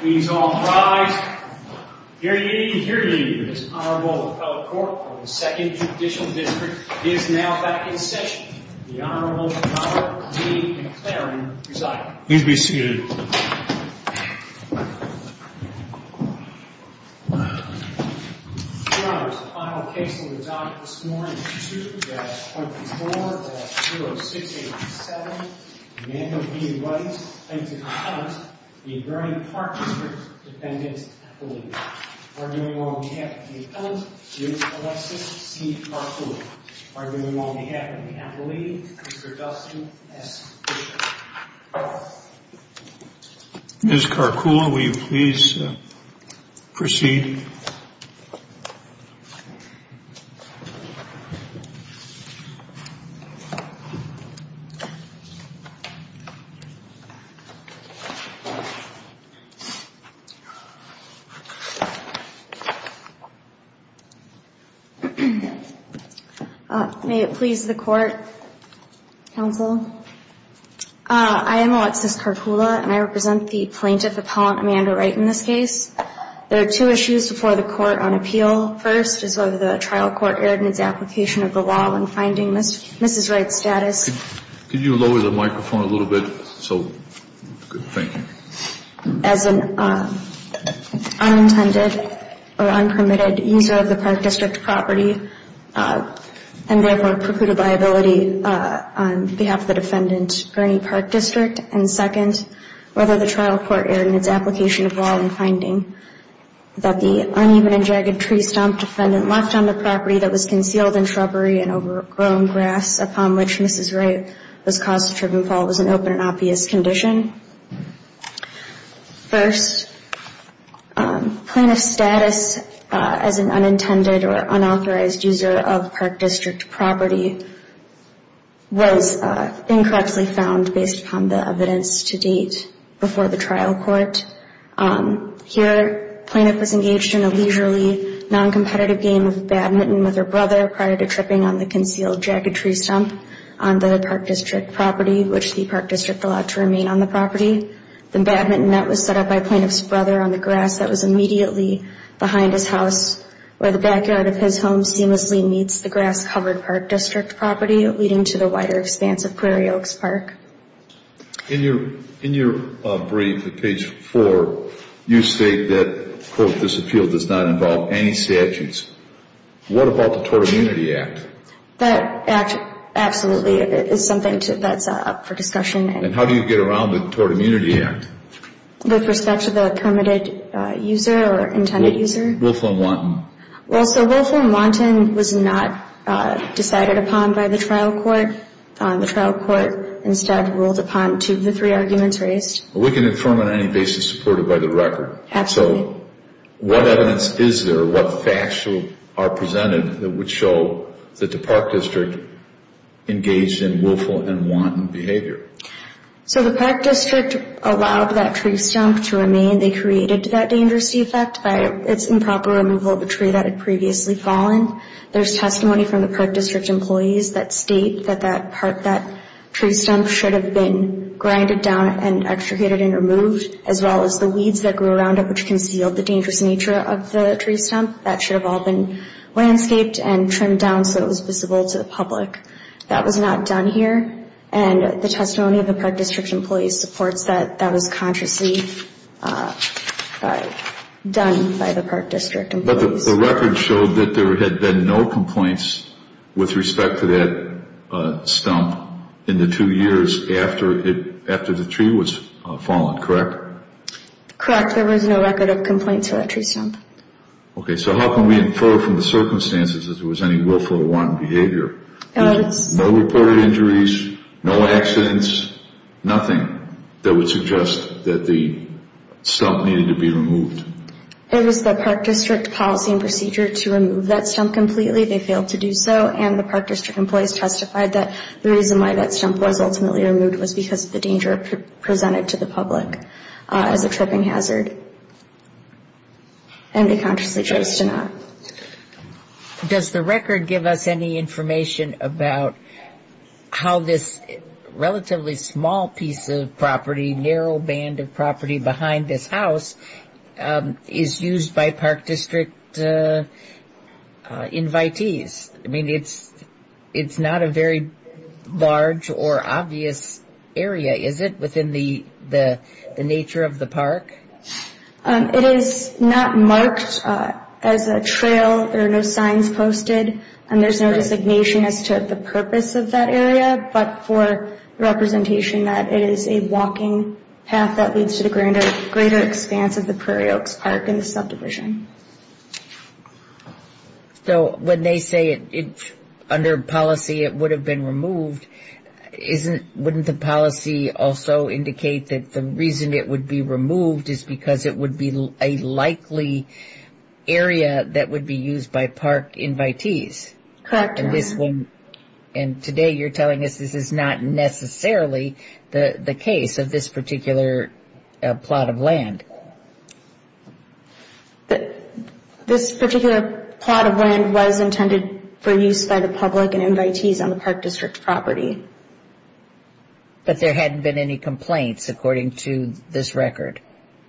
Please all rise. Hear ye, hear ye, this Honorable Appellate Court of the Second Judicial District is now back in session. The Honorable Dr. Lee McLaren presiding. Please be seated. Your Honors, the final case on the docket this morning is 2-4-0-6-8-7, Emmanuel B. Wright v. Appellate, the Grand Park District Defendant Appellate. Arguing on behalf of the Appellate, Ms. Alexis C. Karkula. Arguing on behalf of the Appellate, Mr. Dustin S. Bishop. Ms. Karkula, will you please proceed? May it please the Court, Counsel. I am Alexis Karkula, and I represent the Plaintiff Appellant, Amanda Wright, in this case. There are two issues before the Court on appeal. First is whether the trial court erred in its application of the law when finding Mrs. Wright's status. Could you lower the microphone a little bit? Thank you. As an unintended or unpermitted user of the Park District property, and therefore precluded by ability on behalf of the Defendant, Gurney Park District. And second, whether the trial court erred in its application of law in finding that the uneven and jagged tree stump left on the property that was concealed in shrubbery and overgrown grass upon which Mrs. Wright was caused to trip and fall was an open and obvious condition. First, Plaintiff's status as an unintended or unauthorized user of Park District property was incorrectly found based upon the evidence to date before the trial court. Here, Plaintiff was engaged in a leisurely, non-competitive game of badminton with her brother prior to tripping on the concealed jagged tree stump on the Park District property, which the Park District allowed to remain on the property. The badminton net was set up by Plaintiff's brother on the grass that was immediately behind his house, where the backyard of his home seamlessly meets the grass-covered Park District property, leading to the wider expanse of Prairie Oaks Park. In your brief at page 4, you state that, quote, this appeal does not involve any statutes. What about the Tort Immunity Act? That act, absolutely, is something that's up for discussion. And how do you get around the Tort Immunity Act? With respect to the permitted user or intended user? Wilfo and Wanton. Well, so Wilfo and Wanton was not decided upon by the trial court. The trial court instead ruled upon two of the three arguments raised. We can confirm on any basis supported by the record. Absolutely. So what evidence is there, what facts are presented, that would show that the Park District engaged in Wilfo and Wanton behavior? So the Park District allowed that tree stump to remain. They created that dangerous effect by its improper removal of a tree that had previously fallen. There's testimony from the Park District employees that state that that tree stump should have been grinded down and extricated and removed, as well as the weeds that grew around it which concealed the dangerous nature of the tree stump. That should have all been landscaped and trimmed down so it was visible to the public. That was not done here. And the testimony of the Park District employees supports that that was consciously done by the Park District employees. But the record showed that there had been no complaints with respect to that stump in the two years after the tree was fallen, correct? Correct. There was no record of complaints for that tree stump. Okay. So how can we infer from the circumstances that there was any Wilfo and Wanton behavior? No reported injuries, no accidents, nothing that would suggest that the stump needed to be removed. It was the Park District policy and procedure to remove that stump completely. They failed to do so. And the Park District employees testified that the reason why that stump was ultimately removed was because of the danger presented to the public as a tripping hazard. And they consciously chose to not. Does the record give us any information about how this relatively small piece of property, the narrow band of property behind this house, is used by Park District invitees? I mean, it's not a very large or obvious area, is it, within the nature of the park? It is not marked as a trail. There are no signs posted, and there's no designation as to the purpose of that area, but for representation that it is a walking path that leads to the greater expanse of the Prairie Oaks Park and the subdivision. So when they say under policy it would have been removed, wouldn't the policy also indicate that the reason it would be removed is because it would be a likely area that would be used by park invitees? Correct. And today you're telling us this is not necessarily the case of this particular plot of land. This particular plot of land was intended for use by the public and invitees on the Park District property. But there hadn't been any complaints according to this record.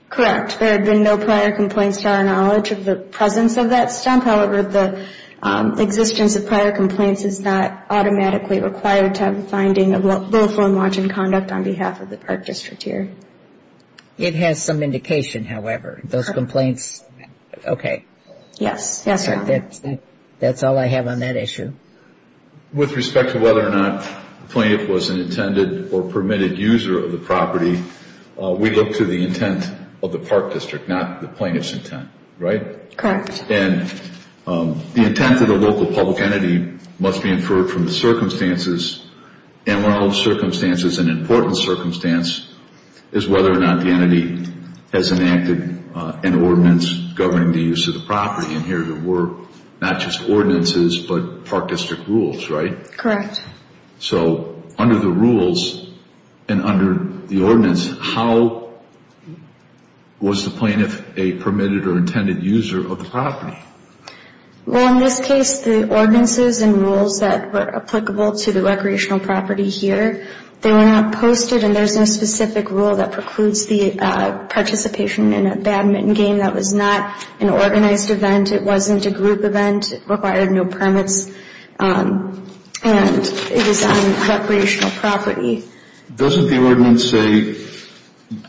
Correct. There had been no prior complaints to our knowledge of the presence of that stump. However, the existence of prior complaints is not automatically required to have a finding of lawful and margin conduct on behalf of the Park District here. It has some indication, however. Those complaints, okay. Yes. That's all I have on that issue. With respect to whether or not the plaintiff was an intended or permitted user of the property, we look to the intent of the Park District, not the plaintiff's intent, right? Correct. And the intent of the local public entity must be inferred from the circumstances. And one of those circumstances, an important circumstance, is whether or not the entity has enacted an ordinance governing the use of the property. And here there were not just ordinances but Park District rules, right? Correct. So under the rules and under the ordinance, how was the plaintiff a permitted or intended user of the property? Well, in this case, the ordinances and rules that were applicable to the recreational property here, they were not posted and there's no specific rule that precludes the participation in a badminton game. That was not an organized event. It wasn't a group event. It required no permits. And it is on recreational property. Doesn't the ordinance say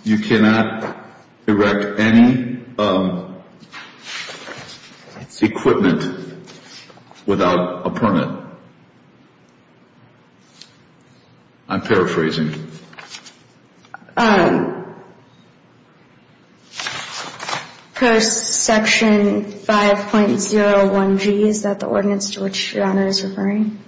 you cannot erect any equipment without a permit? I'm paraphrasing. Post Section 5.01g, is that the ordinance to which your Honor is referring?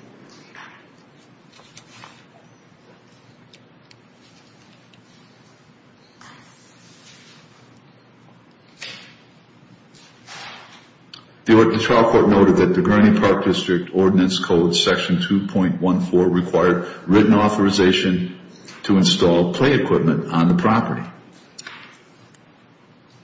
The trial court noted that the Gurney Park District Ordinance Code Section 2.14 required written authorization to install play equipment on the property.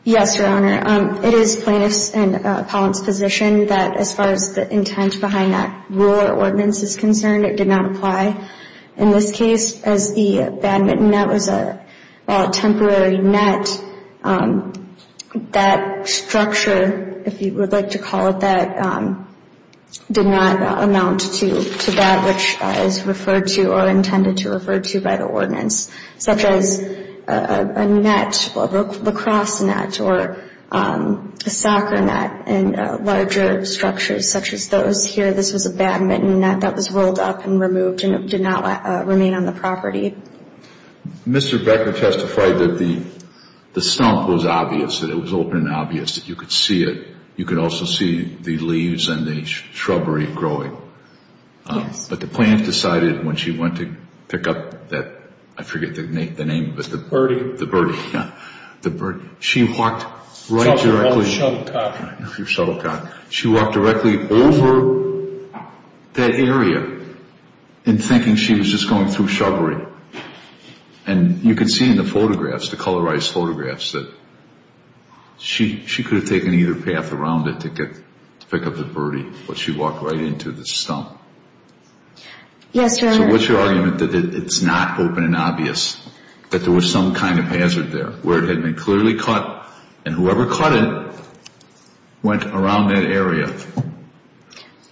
Yes, Your Honor. It is plaintiff's and appellant's position that as far as the intent behind that rule or ordinance is concerned, it did not apply. In this case, as the badminton net was a temporary net, that structure, if you would like to call it that, did not amount to that which is referred to or intended to refer to by the ordinance, such as a net, a lacrosse net or a soccer net in larger structures such as those here. This was a badminton net that was rolled up and removed and it did not remain on the property. Mr. Becker testified that the stump was obvious, that it was open and obvious, that you could see it. You could also see the leaves and the shrubbery growing. Yes. But the plaintiff decided when she went to pick up that, I forget the name of it. The birdie. The birdie, yeah. She walked right directly. Shuttlecock. Your shuttlecock. She walked directly over that area in thinking she was just going through shrubbery. And you can see in the photographs, the colorized photographs, that she could have taken either path around it to pick up the birdie, but she walked right into the stump. Yes, Your Honor. So what's your argument that it's not open and obvious, that there was some kind of hazard there, where it had been clearly caught, and whoever caught it went around that area?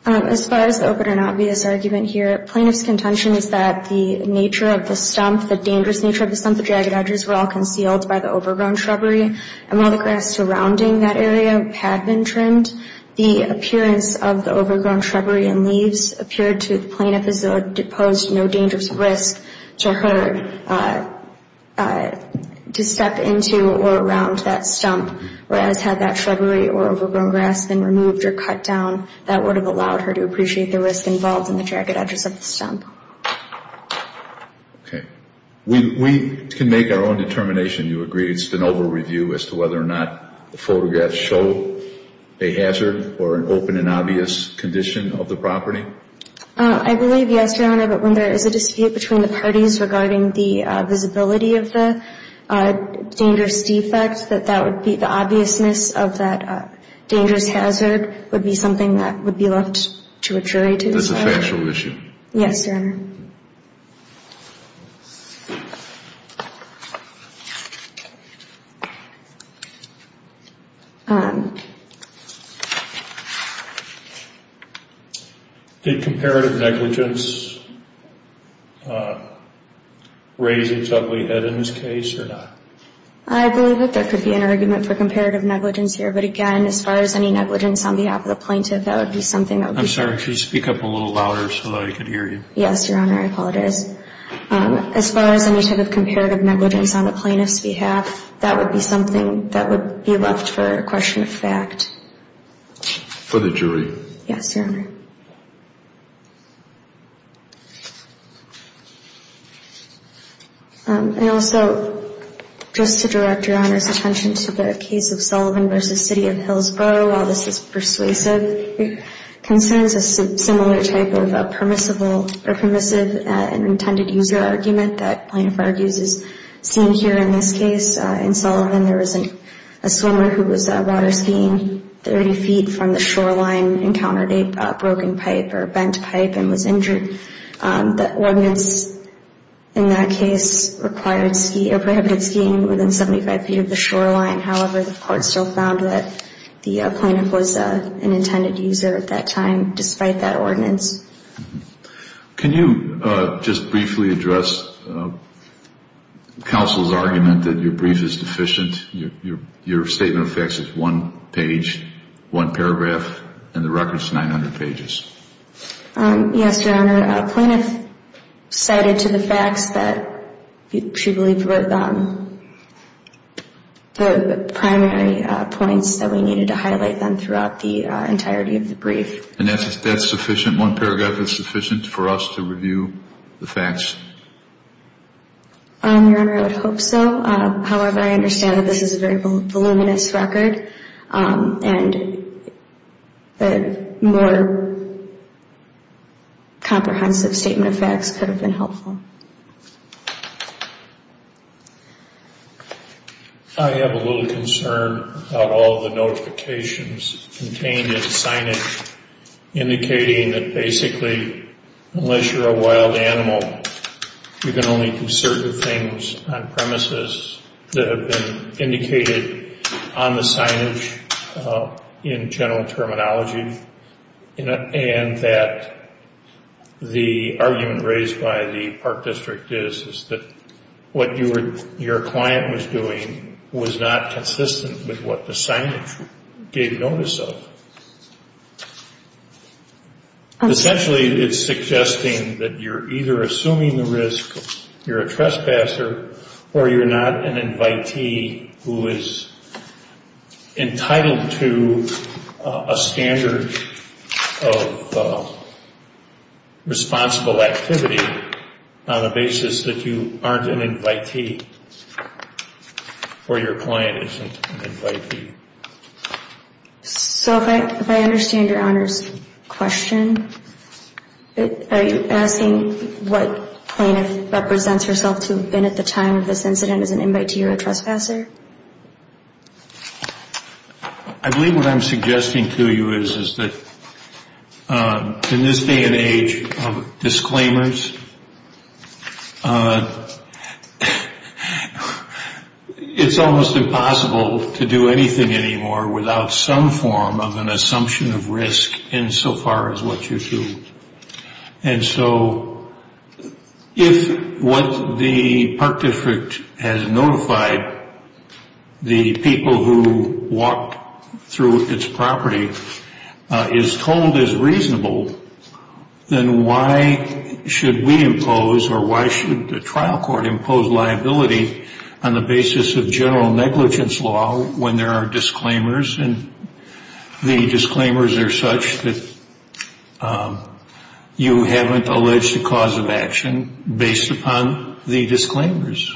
As far as the open and obvious argument here, plaintiff's contention is that the nature of the stump, the dangerous nature of the stump, the jagged edges were all concealed by the overgrown shrubbery, and while the grass surrounding that area had been trimmed, the appearance of the overgrown shrubbery and leaves appeared to the plaintiff as though it posed no dangerous risk to her to step into or around that stump, whereas had that shrubbery or overgrown grass been removed or cut down, that would have allowed her to appreciate the risk involved in the jagged edges of the stump. Okay. We can make our own determination. Do you agree it's an over-review as to whether or not the photographs show a hazard or an open and obvious condition of the property? I believe, yes, Your Honor, but when there is a dispute between the parties regarding the visibility of the dangerous defect, that that would be the obviousness of that dangerous hazard would be something that would be left to a jury to decide. That's a factual issue. Yes, Your Honor. Did comparative negligence raise its ugly head in this case or not? I believe that there could be an argument for comparative negligence here, but again, as far as any negligence on behalf of the plaintiff, that would be something that would be... I'm sorry. Could you speak up a little louder so that I could hear you? Yes, Your Honor. I apologize. As far as any type of comparative negligence on the plaintiff's behalf, that would be something that would be left for question of fact. For the jury. Yes, Your Honor. Thank you, Your Honor. And also, just to direct Your Honor's attention to the case of Sullivan v. City of Hillsborough, while this is persuasive, it concerns a similar type of permissible or permissive and intended user argument that plaintiff argues is seen here in this case. In Sullivan, there was a swimmer who was water skiing 30 feet from the shoreline, encountered a broken pipe or bent pipe, and was injured. The ordinance in that case required ski... or prohibited skiing within 75 feet of the shoreline. However, the court still found that the plaintiff was an intended user at that time, despite that ordinance. Can you just briefly address counsel's argument that your brief is deficient? Your statement of facts is one page, one paragraph, and the record's 900 pages. Yes, Your Honor. Plaintiff cited to the facts that she believed were the primary points that we needed to highlight throughout the entirety of the brief. And that's sufficient, one paragraph is sufficient for us to review the facts? Your Honor, I would hope so. However, I understand that this is a very voluminous record, and a more comprehensive statement of facts could have been helpful. I have a little concern about all the notifications contained in the signage, indicating that basically, unless you're a wild animal, you can only do certain things on premises that have been indicated on the signage in general terminology. And that the argument raised by the Park District is that what your client was doing was not consistent with what the signage gave notice of. Essentially, it's suggesting that you're either assuming the risk, you're a trespasser, or you're not an invitee who is entitled to a standard of responsible activity on the basis that you aren't an invitee, or your client isn't an invitee. So if I understand Your Honor's question, are you asking what plaintiff represents herself to have been at the time of this incident as an invitee or a trespasser? I believe what I'm suggesting to you is that in this day and age of disclaimers, it's almost impossible to do anything anymore without some form of an assumption of risk insofar as what you do. And so, if what the Park District has notified the people who walked through its property is told as reasonable, then why should we impose, or why should the trial court impose liability on the basis of general negligence law when there are disclaimers? And the disclaimers are such that you haven't alleged a cause of action based upon the disclaimers.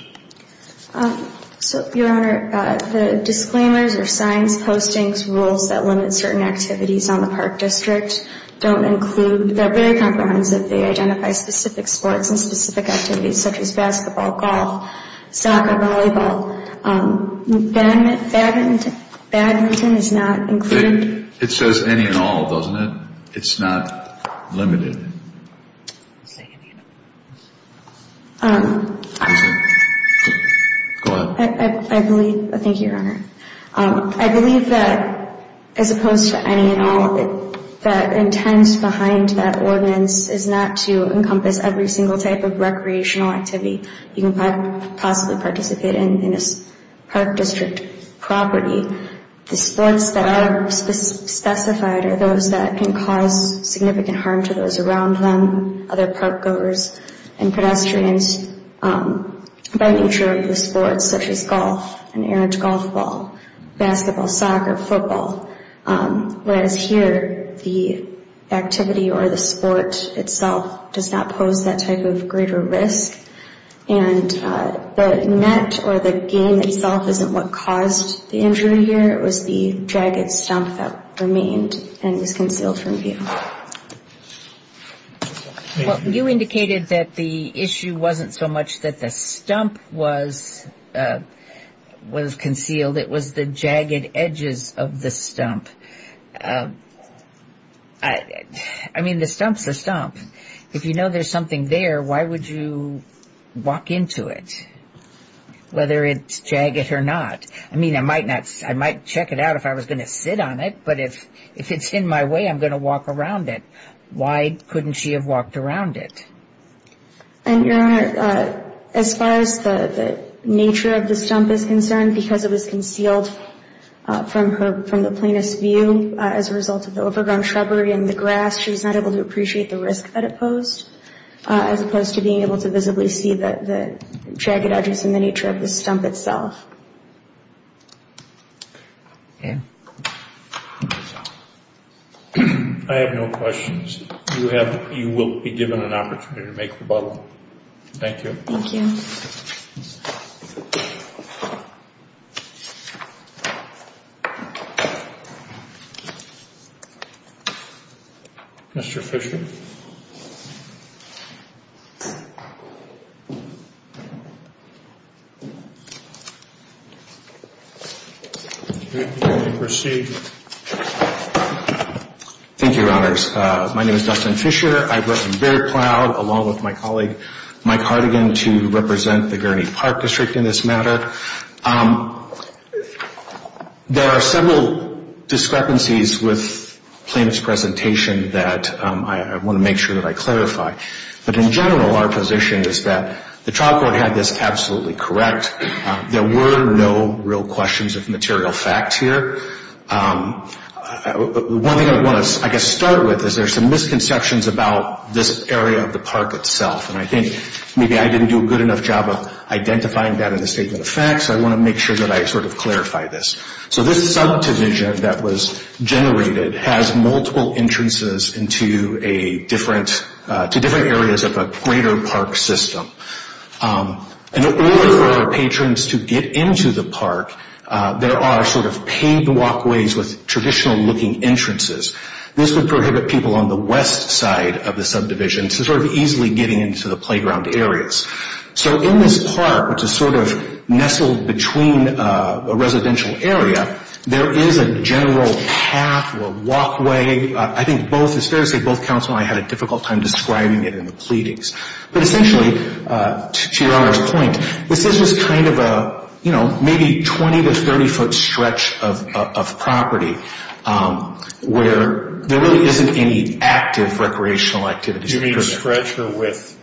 So Your Honor, the disclaimers or signs, postings, rules that limit certain activities on the Park District don't include, they're very comprehensive. They identify specific sports and specific activities such as basketball, golf, soccer, volleyball. Badminton is not included. It says any and all, doesn't it? It's not limited. Go ahead. Thank you, Your Honor. I believe that as opposed to any and all, the intent behind that ordinance is not to encompass every single type of recreational activity you can possibly participate in in a Park District property. The sports that are specified are those that can cause significant harm to those around them, other park goers, and pedestrians by nature of the sports such as golf, an errant golf ball, basketball, soccer, football. Whereas here, the activity or the sport itself does not pose that type of greater risk. And the net or the game itself isn't what caused the injury here. It was the jagged stump that remained and was concealed from view. Well, you indicated that the issue wasn't so much that the stump was concealed. It was the jagged edges of the stump. I mean, the stump's a stump. If you know there's something there, why would you walk into it, whether it's jagged or not? I mean, I might check it out if I was going to sit on it, but if it's in my way, I'm going to walk around it. Why couldn't she have walked around it? And, Your Honor, as far as the nature of the stump is concerned, because it was concealed from the plainest view as a result of the overgrown shrubbery and the grass, she was not able to appreciate the risk that it posed as opposed to being able to visibly see the jagged edges and the nature of the stump itself. I have no questions. You will be given an opportunity to make rebuttal. Thank you. Thank you. Mr. Fisher? You may proceed. Thank you, Your Honors. My name is Dustin Fisher. I've worked very proud, along with my colleague Mike Hartigan, to represent the Gurney Park District in this matter. There are several discrepancies with the plaintiff's presentation that I want to make sure that I clarify. But in general, our position is that the trial court had this absolutely correct. There were no real questions of material facts here. One thing I want to, I guess, start with is there are some misconceptions about this area of the park itself. And I think maybe I didn't do a good enough job of identifying that in the statement of facts. I want to make sure that I sort of clarify this. So this subdivision that was generated has multiple entrances into different areas of a greater park system. In order for patrons to get into the park, there are sort of paved walkways with traditional-looking entrances. This would prohibit people on the west side of the subdivision to sort of easily get into the playground areas. So in this park, which is sort of nestled between a residential area, there is a general path or walkway. I think both, it's fair to say both counsel and I had a difficult time describing it in the pleadings. But essentially, to your honor's point, this is just kind of a, you know, maybe 20 to 30-foot stretch of property where there really isn't any active recreational activities. You mean stretch or width?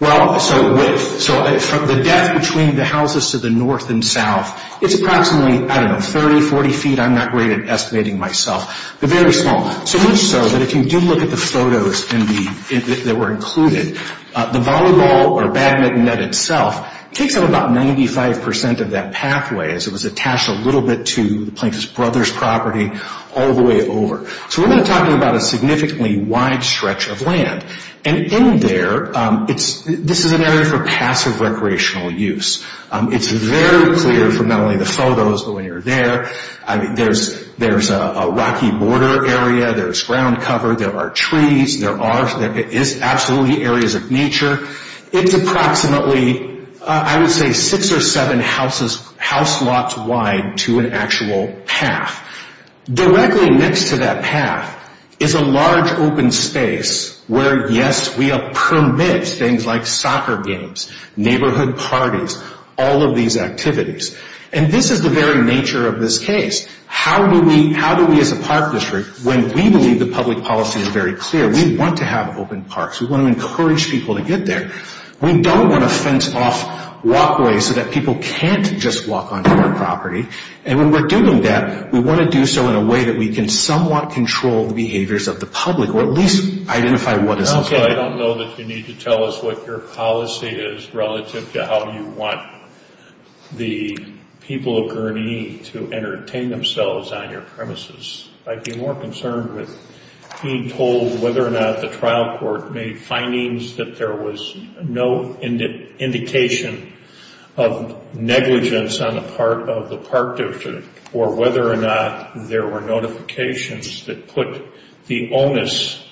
Well, so width. So the depth between the houses to the north and south, it's approximately, I don't know, 30, 40 feet. I'm not great at estimating myself. They're very small, so much so that if you do look at the photos that were included, the volleyball or badminton net itself takes up about 95% of that pathway as it was attached a little bit to the Plankton Brothers' property all the way over. So we're not talking about a significantly wide stretch of land. And in there, this is an area for passive recreational use. It's very clear from not only the photos, but when you're there, there's a rocky border area, there's ground cover, there are trees, there are absolutely areas of nature. It's approximately, I would say, six or seven house lots wide to an actual path. Directly next to that path is a large open space where, yes, we have permits, things like soccer games, neighborhood parties, all of these activities. And this is the very nature of this case. How do we, as a park district, when we believe the public policy is very clear, we want to have open parks, we want to encourage people to get there, we don't want to fence off walkways so that people can't just walk onto our property. And when we're doing that, we want to do so in a way that we can somewhat control the behaviors of the public or at least identify what is okay. Also, I don't know that you need to tell us what your policy is relative to how you want the people of Gurnee to entertain themselves on your premises. I'd be more concerned with being told whether or not the trial court made findings that there was no indication of negligence on the part of the park district or whether or not there were notifications that put the onus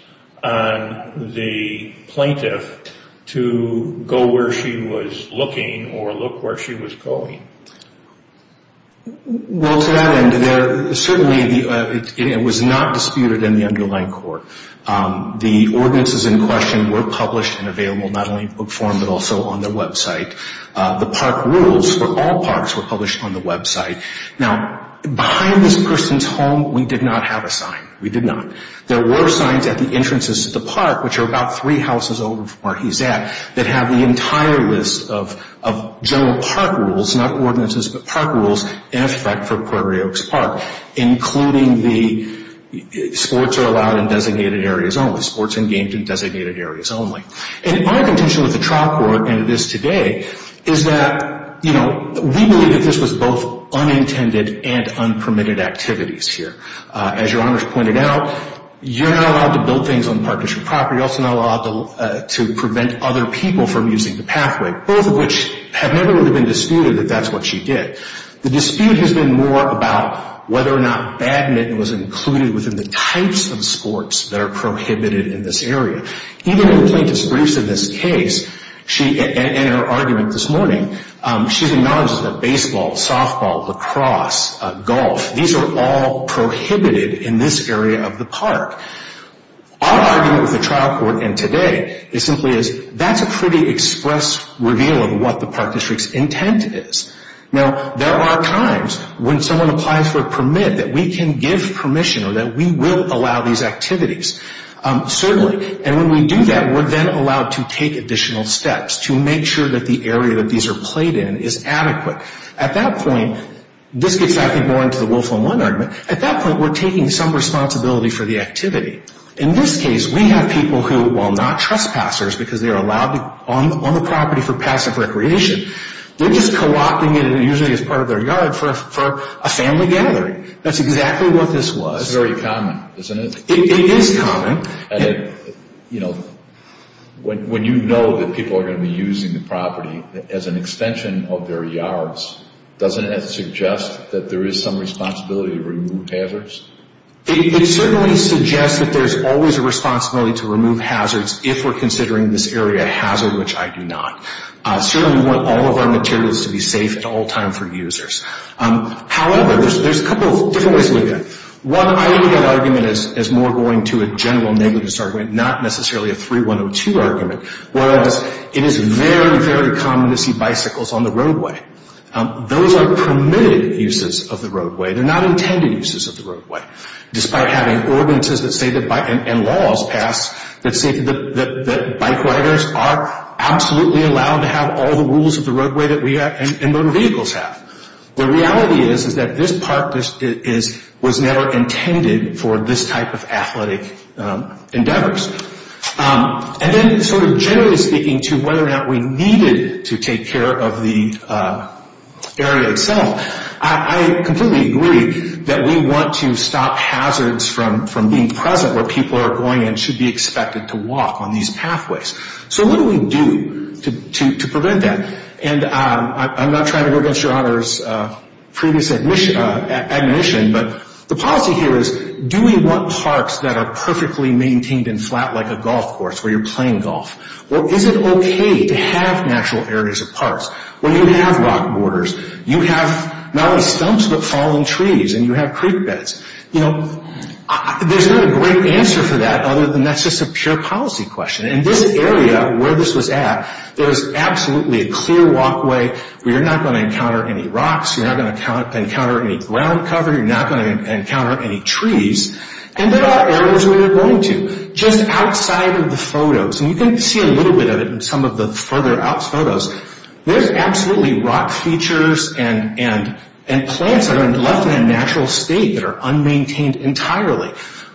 on the plaintiff to go where she was looking or look where she was going. Well, to that end, certainly it was not disputed in the underlying court. The ordinances in question were published and available not only in book form but also on the website. The park rules for all parks were published on the website. Now, behind this person's home, we did not have a sign. We did not. There were signs at the entrances to the park, which are about three houses over from where he's at, that have the entire list of general park rules, not ordinances but park rules, in effect for Puerto Rios Park, including the sports are allowed in designated areas only, sports and games in designated areas only. And our contention with the trial court, and it is today, is that, you know, we believe that this was both unintended and unpermitted activities here. As Your Honors pointed out, you're not allowed to build things on park district property. You're also not allowed to prevent other people from using the pathway, both of which have never really been disputed that that's what she did. The dispute has been more about whether or not badminton was included within the types of sports that are prohibited in this area. Even in plaintiff's briefs in this case, she, in her argument this morning, she acknowledges that baseball, softball, lacrosse, golf, these are all prohibited in this area of the park. Our argument with the trial court, and today, is simply is that's a pretty express reveal of what the park district's intent is. Now, there are times when someone applies for a permit that we can give permission or that we will allow these activities. Certainly, and when we do that, we're then allowed to take additional steps to make sure that the area that these are played in is adequate. At that point, this gets back more into the Wolf on One argument. At that point, we're taking some responsibility for the activity. In this case, we have people who, while not trespassers because they're allowed on the property for passive recreation, they're just co-opting it usually as part of their yard for a family gathering. That's exactly what this was. That's very common, isn't it? It is common. And, you know, when you know that people are going to be using the property as an extension of their yards, doesn't that suggest that there is some responsibility to remove hazards? It certainly suggests that there's always a responsibility to remove hazards if we're considering this area a hazard, which I do not. Certainly, we want all of our materials to be safe at all times for users. However, there's a couple of different ways to look at it. One ideal argument is more going to a general negligence argument, not necessarily a 3102 argument, whereas it is very, very common to see bicycles on the roadway. Those are permitted uses of the roadway. They're not intended uses of the roadway. Despite having ordinances and laws passed that say that bike riders are absolutely allowed to have all the rules of the roadway that we have and motor vehicles have. The reality is that this park was never intended for this type of athletic endeavors. And then sort of generally speaking to whether or not we needed to take care of the area itself, I completely agree that we want to stop hazards from being present where people are going and should be expected to walk on these pathways. So what do we do to prevent that? And I'm not trying to go against your honor's previous admonition, but the policy here is do we want parks that are perfectly maintained and flat like a golf course where you're playing golf? Or is it okay to have natural areas of parks where you have rock borders, you have not only stumps but fallen trees, and you have creek beds? You know, there's not a great answer for that other than that's just a pure policy question. In this area where this was at, there was absolutely a clear walkway where you're not going to encounter any rocks, you're not going to encounter any ground cover, you're not going to encounter any trees. And there are areas where you're going to. Just outside of the photos, and you can see a little bit of it in some of the further out photos, there's absolutely rock features and plants that are left in a natural state that are unmaintained entirely.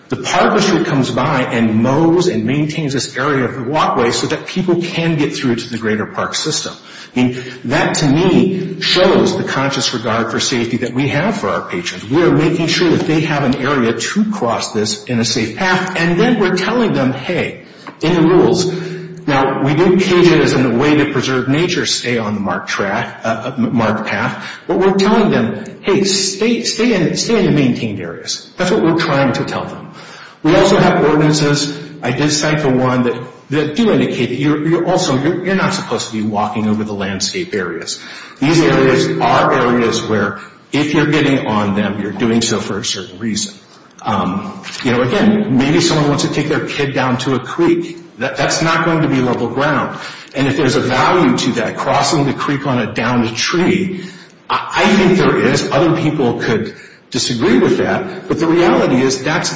The park reserve comes by and mows and maintains this area of the walkway so that people can get through to the greater park system. I mean, that to me shows the conscious regard for safety that we have for our patrons. We are making sure that they have an area to cross this in a safe path, and then we're telling them, hey, in the rules. Now, we do cages and the way to preserve nature stay on the marked path, but we're telling them, hey, stay in the maintained areas. That's what we're trying to tell them. We also have ordinances. I did cite the one that do indicate that also you're not supposed to be walking over the landscape areas. These areas are areas where if you're getting on them, you're doing so for a certain reason. You know, again, maybe someone wants to take their kid down to a creek. That's not going to be level ground. And if there's a value to that, crossing the creek on a downed tree, I think there is. Other people could disagree with that, but the reality is that's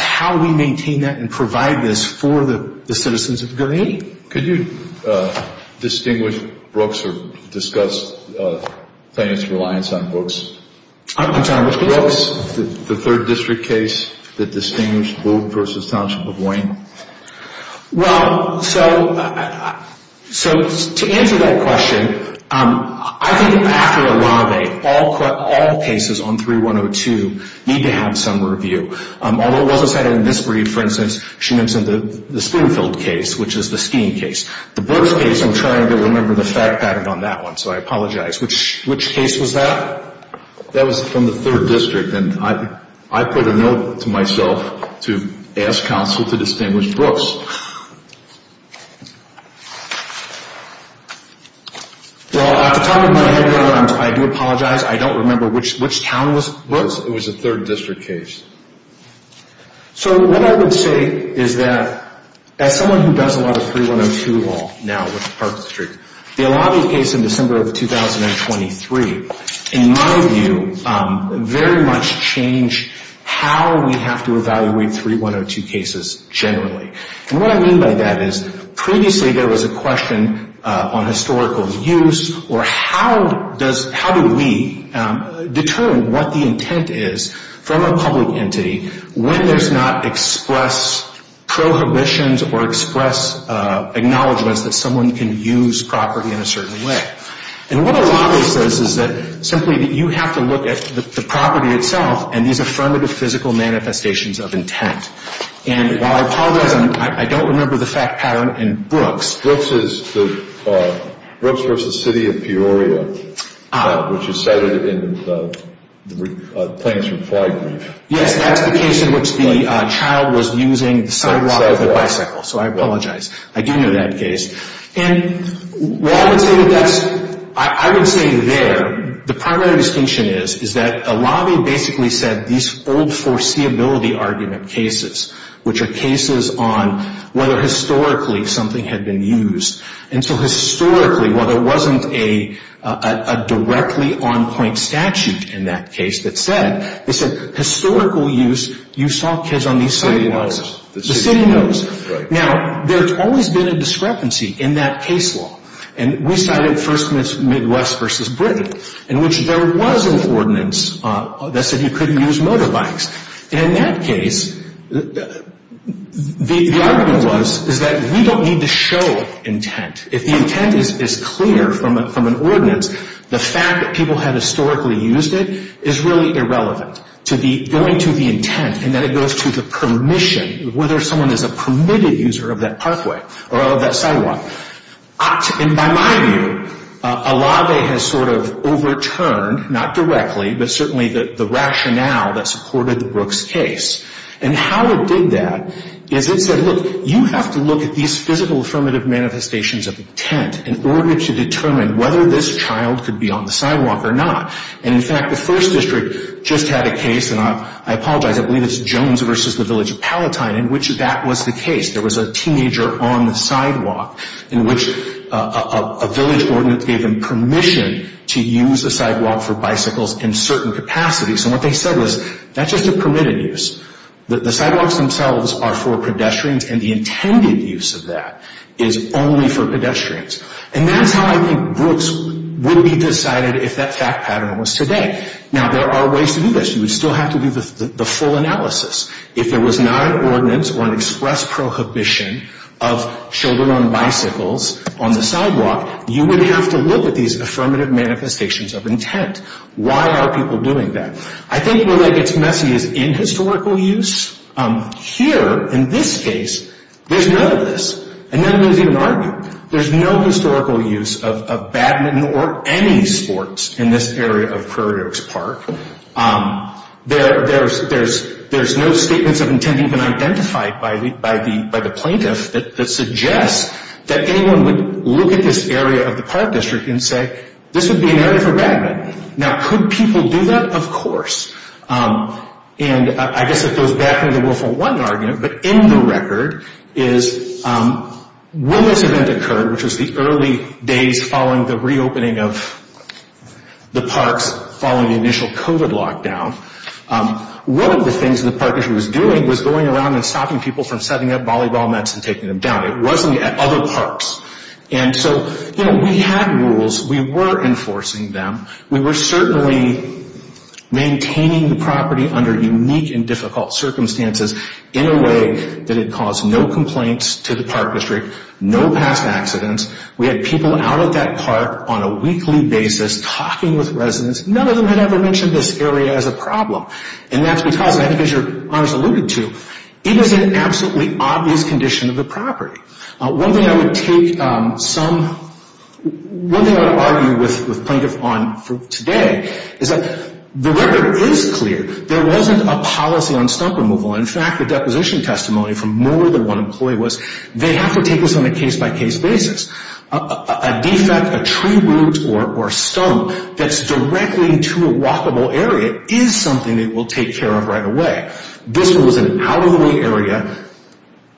how we maintain that and provide this for the citizens of Good Eight. Could you distinguish Brooks or discuss plaintiff's reliance on Brooks? I'm sorry, which case? The third district case, the distinguished Booth v. Township of Wayne. Well, so to answer that question, I think after a lot of eight, all cases on 3102 need to have some review. Although it wasn't cited in this brief, for instance, she mentioned the Springfield case, which is the skiing case. The Brooks case, I'm trying to remember the fact pattern on that one, so I apologize. Which case was that? That was from the third district, and I put a note to myself to ask counsel to distinguish Brooks. Well, at the top of my head right now, I do apologize. I don't remember which town was Brooks. It was a third district case. So what I would say is that as someone who does a lot of 3102 law now with Park Street, the Alabi case in December of 2023, in my view, very much changed how we have to evaluate 3102 cases generally. And what I mean by that is previously there was a question on historical use or how do we determine what the intent is from a public entity when there's not express prohibitions or express acknowledgments that someone can use property in a certain way. And what Alabi says is that simply that you have to look at the property itself and these affirmative physical manifestations of intent. And while I apologize, I don't remember the fact pattern in Brooks. Brooks was the city of Peoria, which is cited in the claims reply brief. Yes, that's the case in which the child was using sidewalk with a bicycle. So I apologize. I do know that case. And while I would say that that's – I would say there, the primary distinction is, is that Alabi basically said these old foreseeability argument cases, which are cases on whether historically something had been used. And so historically, while there wasn't a directly on-point statute in that case that said, they said historical use, you saw kids on these sidewalks. The city knows. Right. Now, there's always been a discrepancy in that case law. And we started first with Midwest versus Britain, in which there was an ordinance that said you couldn't use motorbikes. And in that case, the argument was is that we don't need to show intent. If the intent is clear from an ordinance, the fact that people had historically used it is really irrelevant. Going to the intent and then it goes to the permission, whether someone is a permitted user of that parkway or of that sidewalk. And by my view, Alabi has sort of overturned, not directly, but certainly the rationale that supported the Brooks case. And how it did that is it said, look, you have to look at these physical affirmative manifestations of intent in order to determine whether this child could be on the sidewalk or not. And, in fact, the first district just had a case, and I apologize, I believe it's Jones versus the village of Palatine, in which that was the case. There was a teenager on the sidewalk in which a village ordinance gave him permission to use a sidewalk for bicycles in certain capacities. And what they said was, that's just a permitted use. The sidewalks themselves are for pedestrians, and the intended use of that is only for pedestrians. And that's how I think Brooks would be decided if that fact pattern was today. Now, there are ways to do this. You would still have to do the full analysis. If there was not an ordinance or an express prohibition of children on bicycles on the sidewalk, you would have to look at these affirmative manifestations of intent. Why are people doing that? I think where that gets messy is in historical use. Here, in this case, there's none of this, and none of those even argue. There's no historical use of badminton or any sports in this area of Prairie Oaks Park. There's no statements of intent even identified by the plaintiff that suggests that anyone would look at this area of the park district and say, this would be an area for badminton. Now, could people do that? Of course. And I guess it goes back to the Willful One argument, but in the record, is when this event occurred, which was the early days following the reopening of the parks following the initial COVID lockdown, one of the things the park district was doing was going around and stopping people from setting up volleyball nets and taking them down. It wasn't at other parks. We had rules. We were enforcing them. We were certainly maintaining the property under unique and difficult circumstances in a way that it caused no complaints to the park district, no past accidents. We had people out at that park on a weekly basis talking with residents. None of them had ever mentioned this area as a problem, and that's because, I think as your honors alluded to, it was an absolutely obvious condition of the property. One thing I would argue with Plaintiff on today is that the record is clear. There wasn't a policy on stump removal. In fact, the deposition testimony from more than one employee was, they have to take this on a case-by-case basis. A defect, a tree root, or a stump that's directly into a walkable area is something that we'll take care of right away. This was an out-of-the-way area,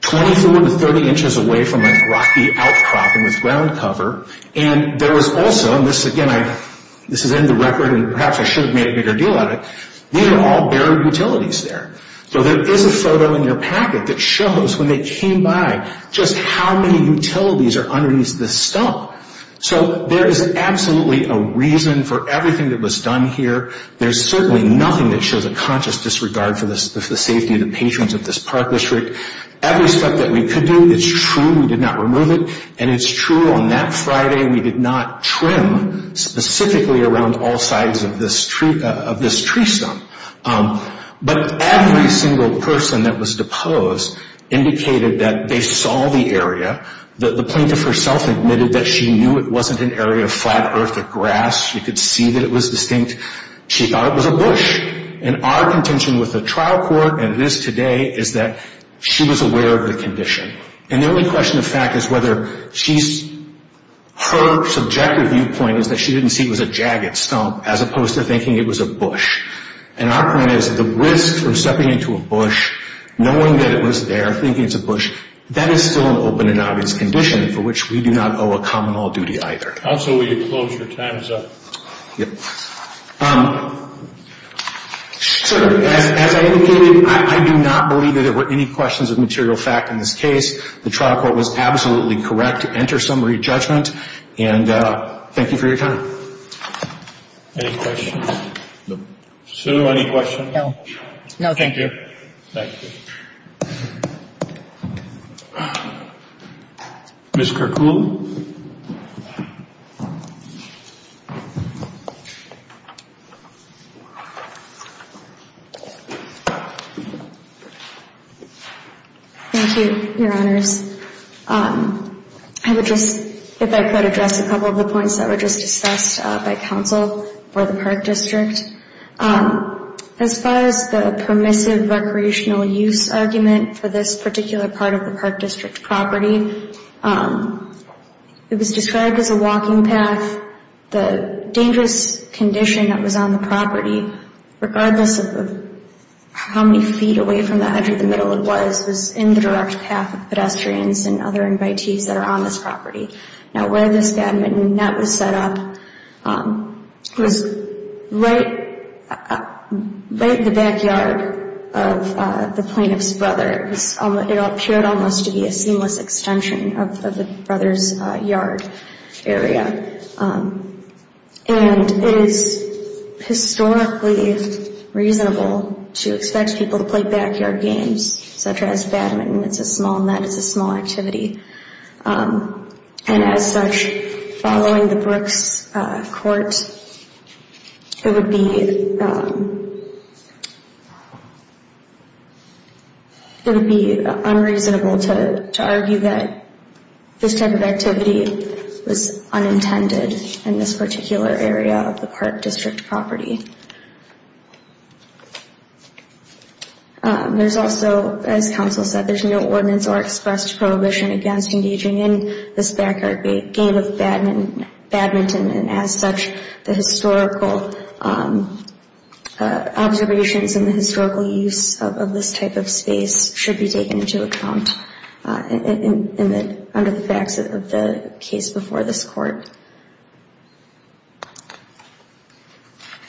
24 to 30 inches away from a rocky outcropping with ground cover. There was also, and this is in the record and perhaps I should have made a bigger deal out of it, these are all buried utilities there. There is a photo in your packet that shows when they came by just how many utilities are underneath this stump. There is absolutely a reason for everything that was done here. There's certainly nothing that shows a conscious disregard for the safety of the patrons of this park district. Every step that we could do, it's true we did not remove it, and it's true on that Friday we did not trim specifically around all sides of this tree stump. But every single person that was deposed indicated that they saw the area. The plaintiff herself admitted that she knew it wasn't an area of flat, earth or grass. She could see that it was distinct. She thought it was a bush. And our contention with the trial court and this today is that she was aware of the condition. And the only question of fact is whether her subjective viewpoint is that she didn't see it was a jagged stump as opposed to thinking it was a bush. And our point is the risk from stepping into a bush, knowing that it was there, thinking it's a bush, that is still an open and obvious condition for which we do not owe a common law duty either. Counsel, will you close your time zone? Sir, as I indicated, I do not believe that there were any questions of material fact in this case. The trial court was absolutely correct to enter summary judgment. And thank you for your time. Any questions? No. Sue, any questions? No. No, thank you. Thank you. Thank you. Ms. Kirkwood. Thank you, Your Honors. I would just, if I could, address a couple of the points that were just discussed by counsel for the Park District. As far as the permissive recreational use argument for this particular part of the Park District property, it was described as a walking path. The dangerous condition that was on the property, regardless of how many feet away from the edge of the middle it was, was in the direct path of pedestrians and other invitees that are on this property. Now, where this badminton net was set up was right in the backyard of the plaintiff's brother. It appeared almost to be a seamless extension of the brother's yard area. And it is historically reasonable to expect people to play backyard games, such as badminton. It's a small net, it's a small activity. And as such, following the Brooks court, it would be unreasonable to argue that this type of activity was unintended in this particular area of the Park District property. There's also, as counsel said, there's no ordinance or expressed prohibition against engaging in this backyard game of badminton. And as such, the historical observations and the historical use of this type of space should be taken into account under the facts of the case before this court.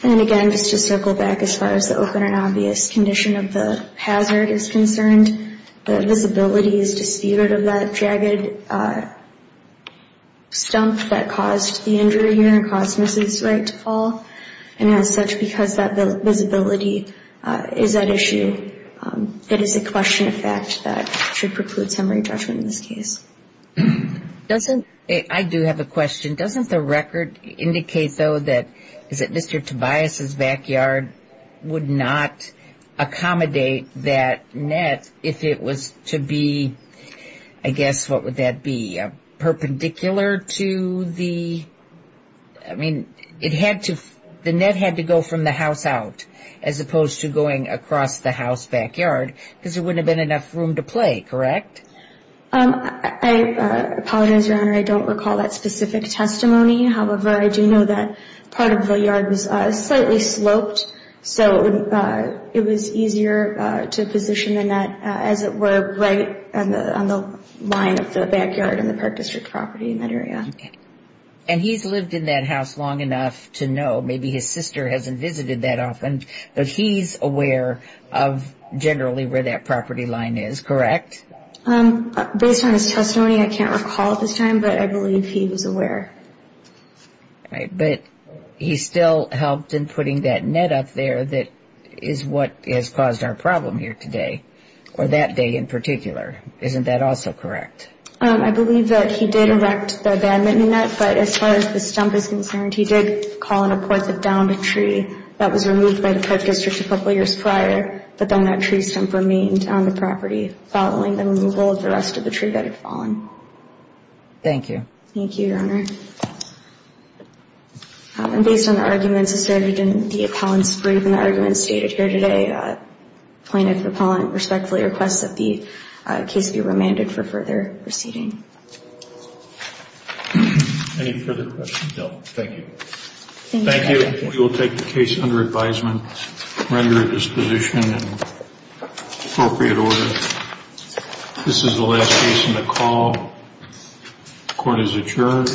And again, just to circle back as far as the open and obvious condition of the hazard is concerned, the visibility is disputed of that jagged stump that caused the injury and caused Mrs. Wright to fall. And as such, because that visibility is at issue, it is a question of fact that should preclude summary judgment in this case. I do have a question. Doesn't the record indicate, though, that Mr. Tobias's backyard would not accommodate that net if it was to be, I guess, what would that be? Perpendicular to the, I mean, the net had to go from the house out as opposed to going across the house backyard because there wouldn't have been enough room to play, correct? I apologize, Your Honor, I don't recall that specific testimony. However, I do know that part of the yard was slightly sloped, so it was easier to position the net, as it were, right on the line of the backyard in the Park District property in that area. And he's lived in that house long enough to know. Maybe his sister hasn't visited that often, but he's aware of generally where that property line is, correct? Based on his testimony, I can't recall at this time, but I believe he was aware. All right. But he still helped in putting that net up there that is what has caused our problem here today, or that day in particular. Isn't that also correct? I believe that he did erect the abandonment net, but as far as the stump is concerned, he did call and report that downed a tree that was removed by the Park District a couple of years prior, but then that tree stump remained on the property following the removal of the rest of the tree that had fallen. Thank you. Thank you, Your Honor. And based on the arguments asserted in the appellant's brief and the arguments stated here today, plaintiff appellant respectfully requests that the case be remanded for further proceeding. Any further questions? No. Thank you. Thank you. All right. We will take the case under advisement, render a disposition in appropriate order. This is the last case in the call. The court is adjourned.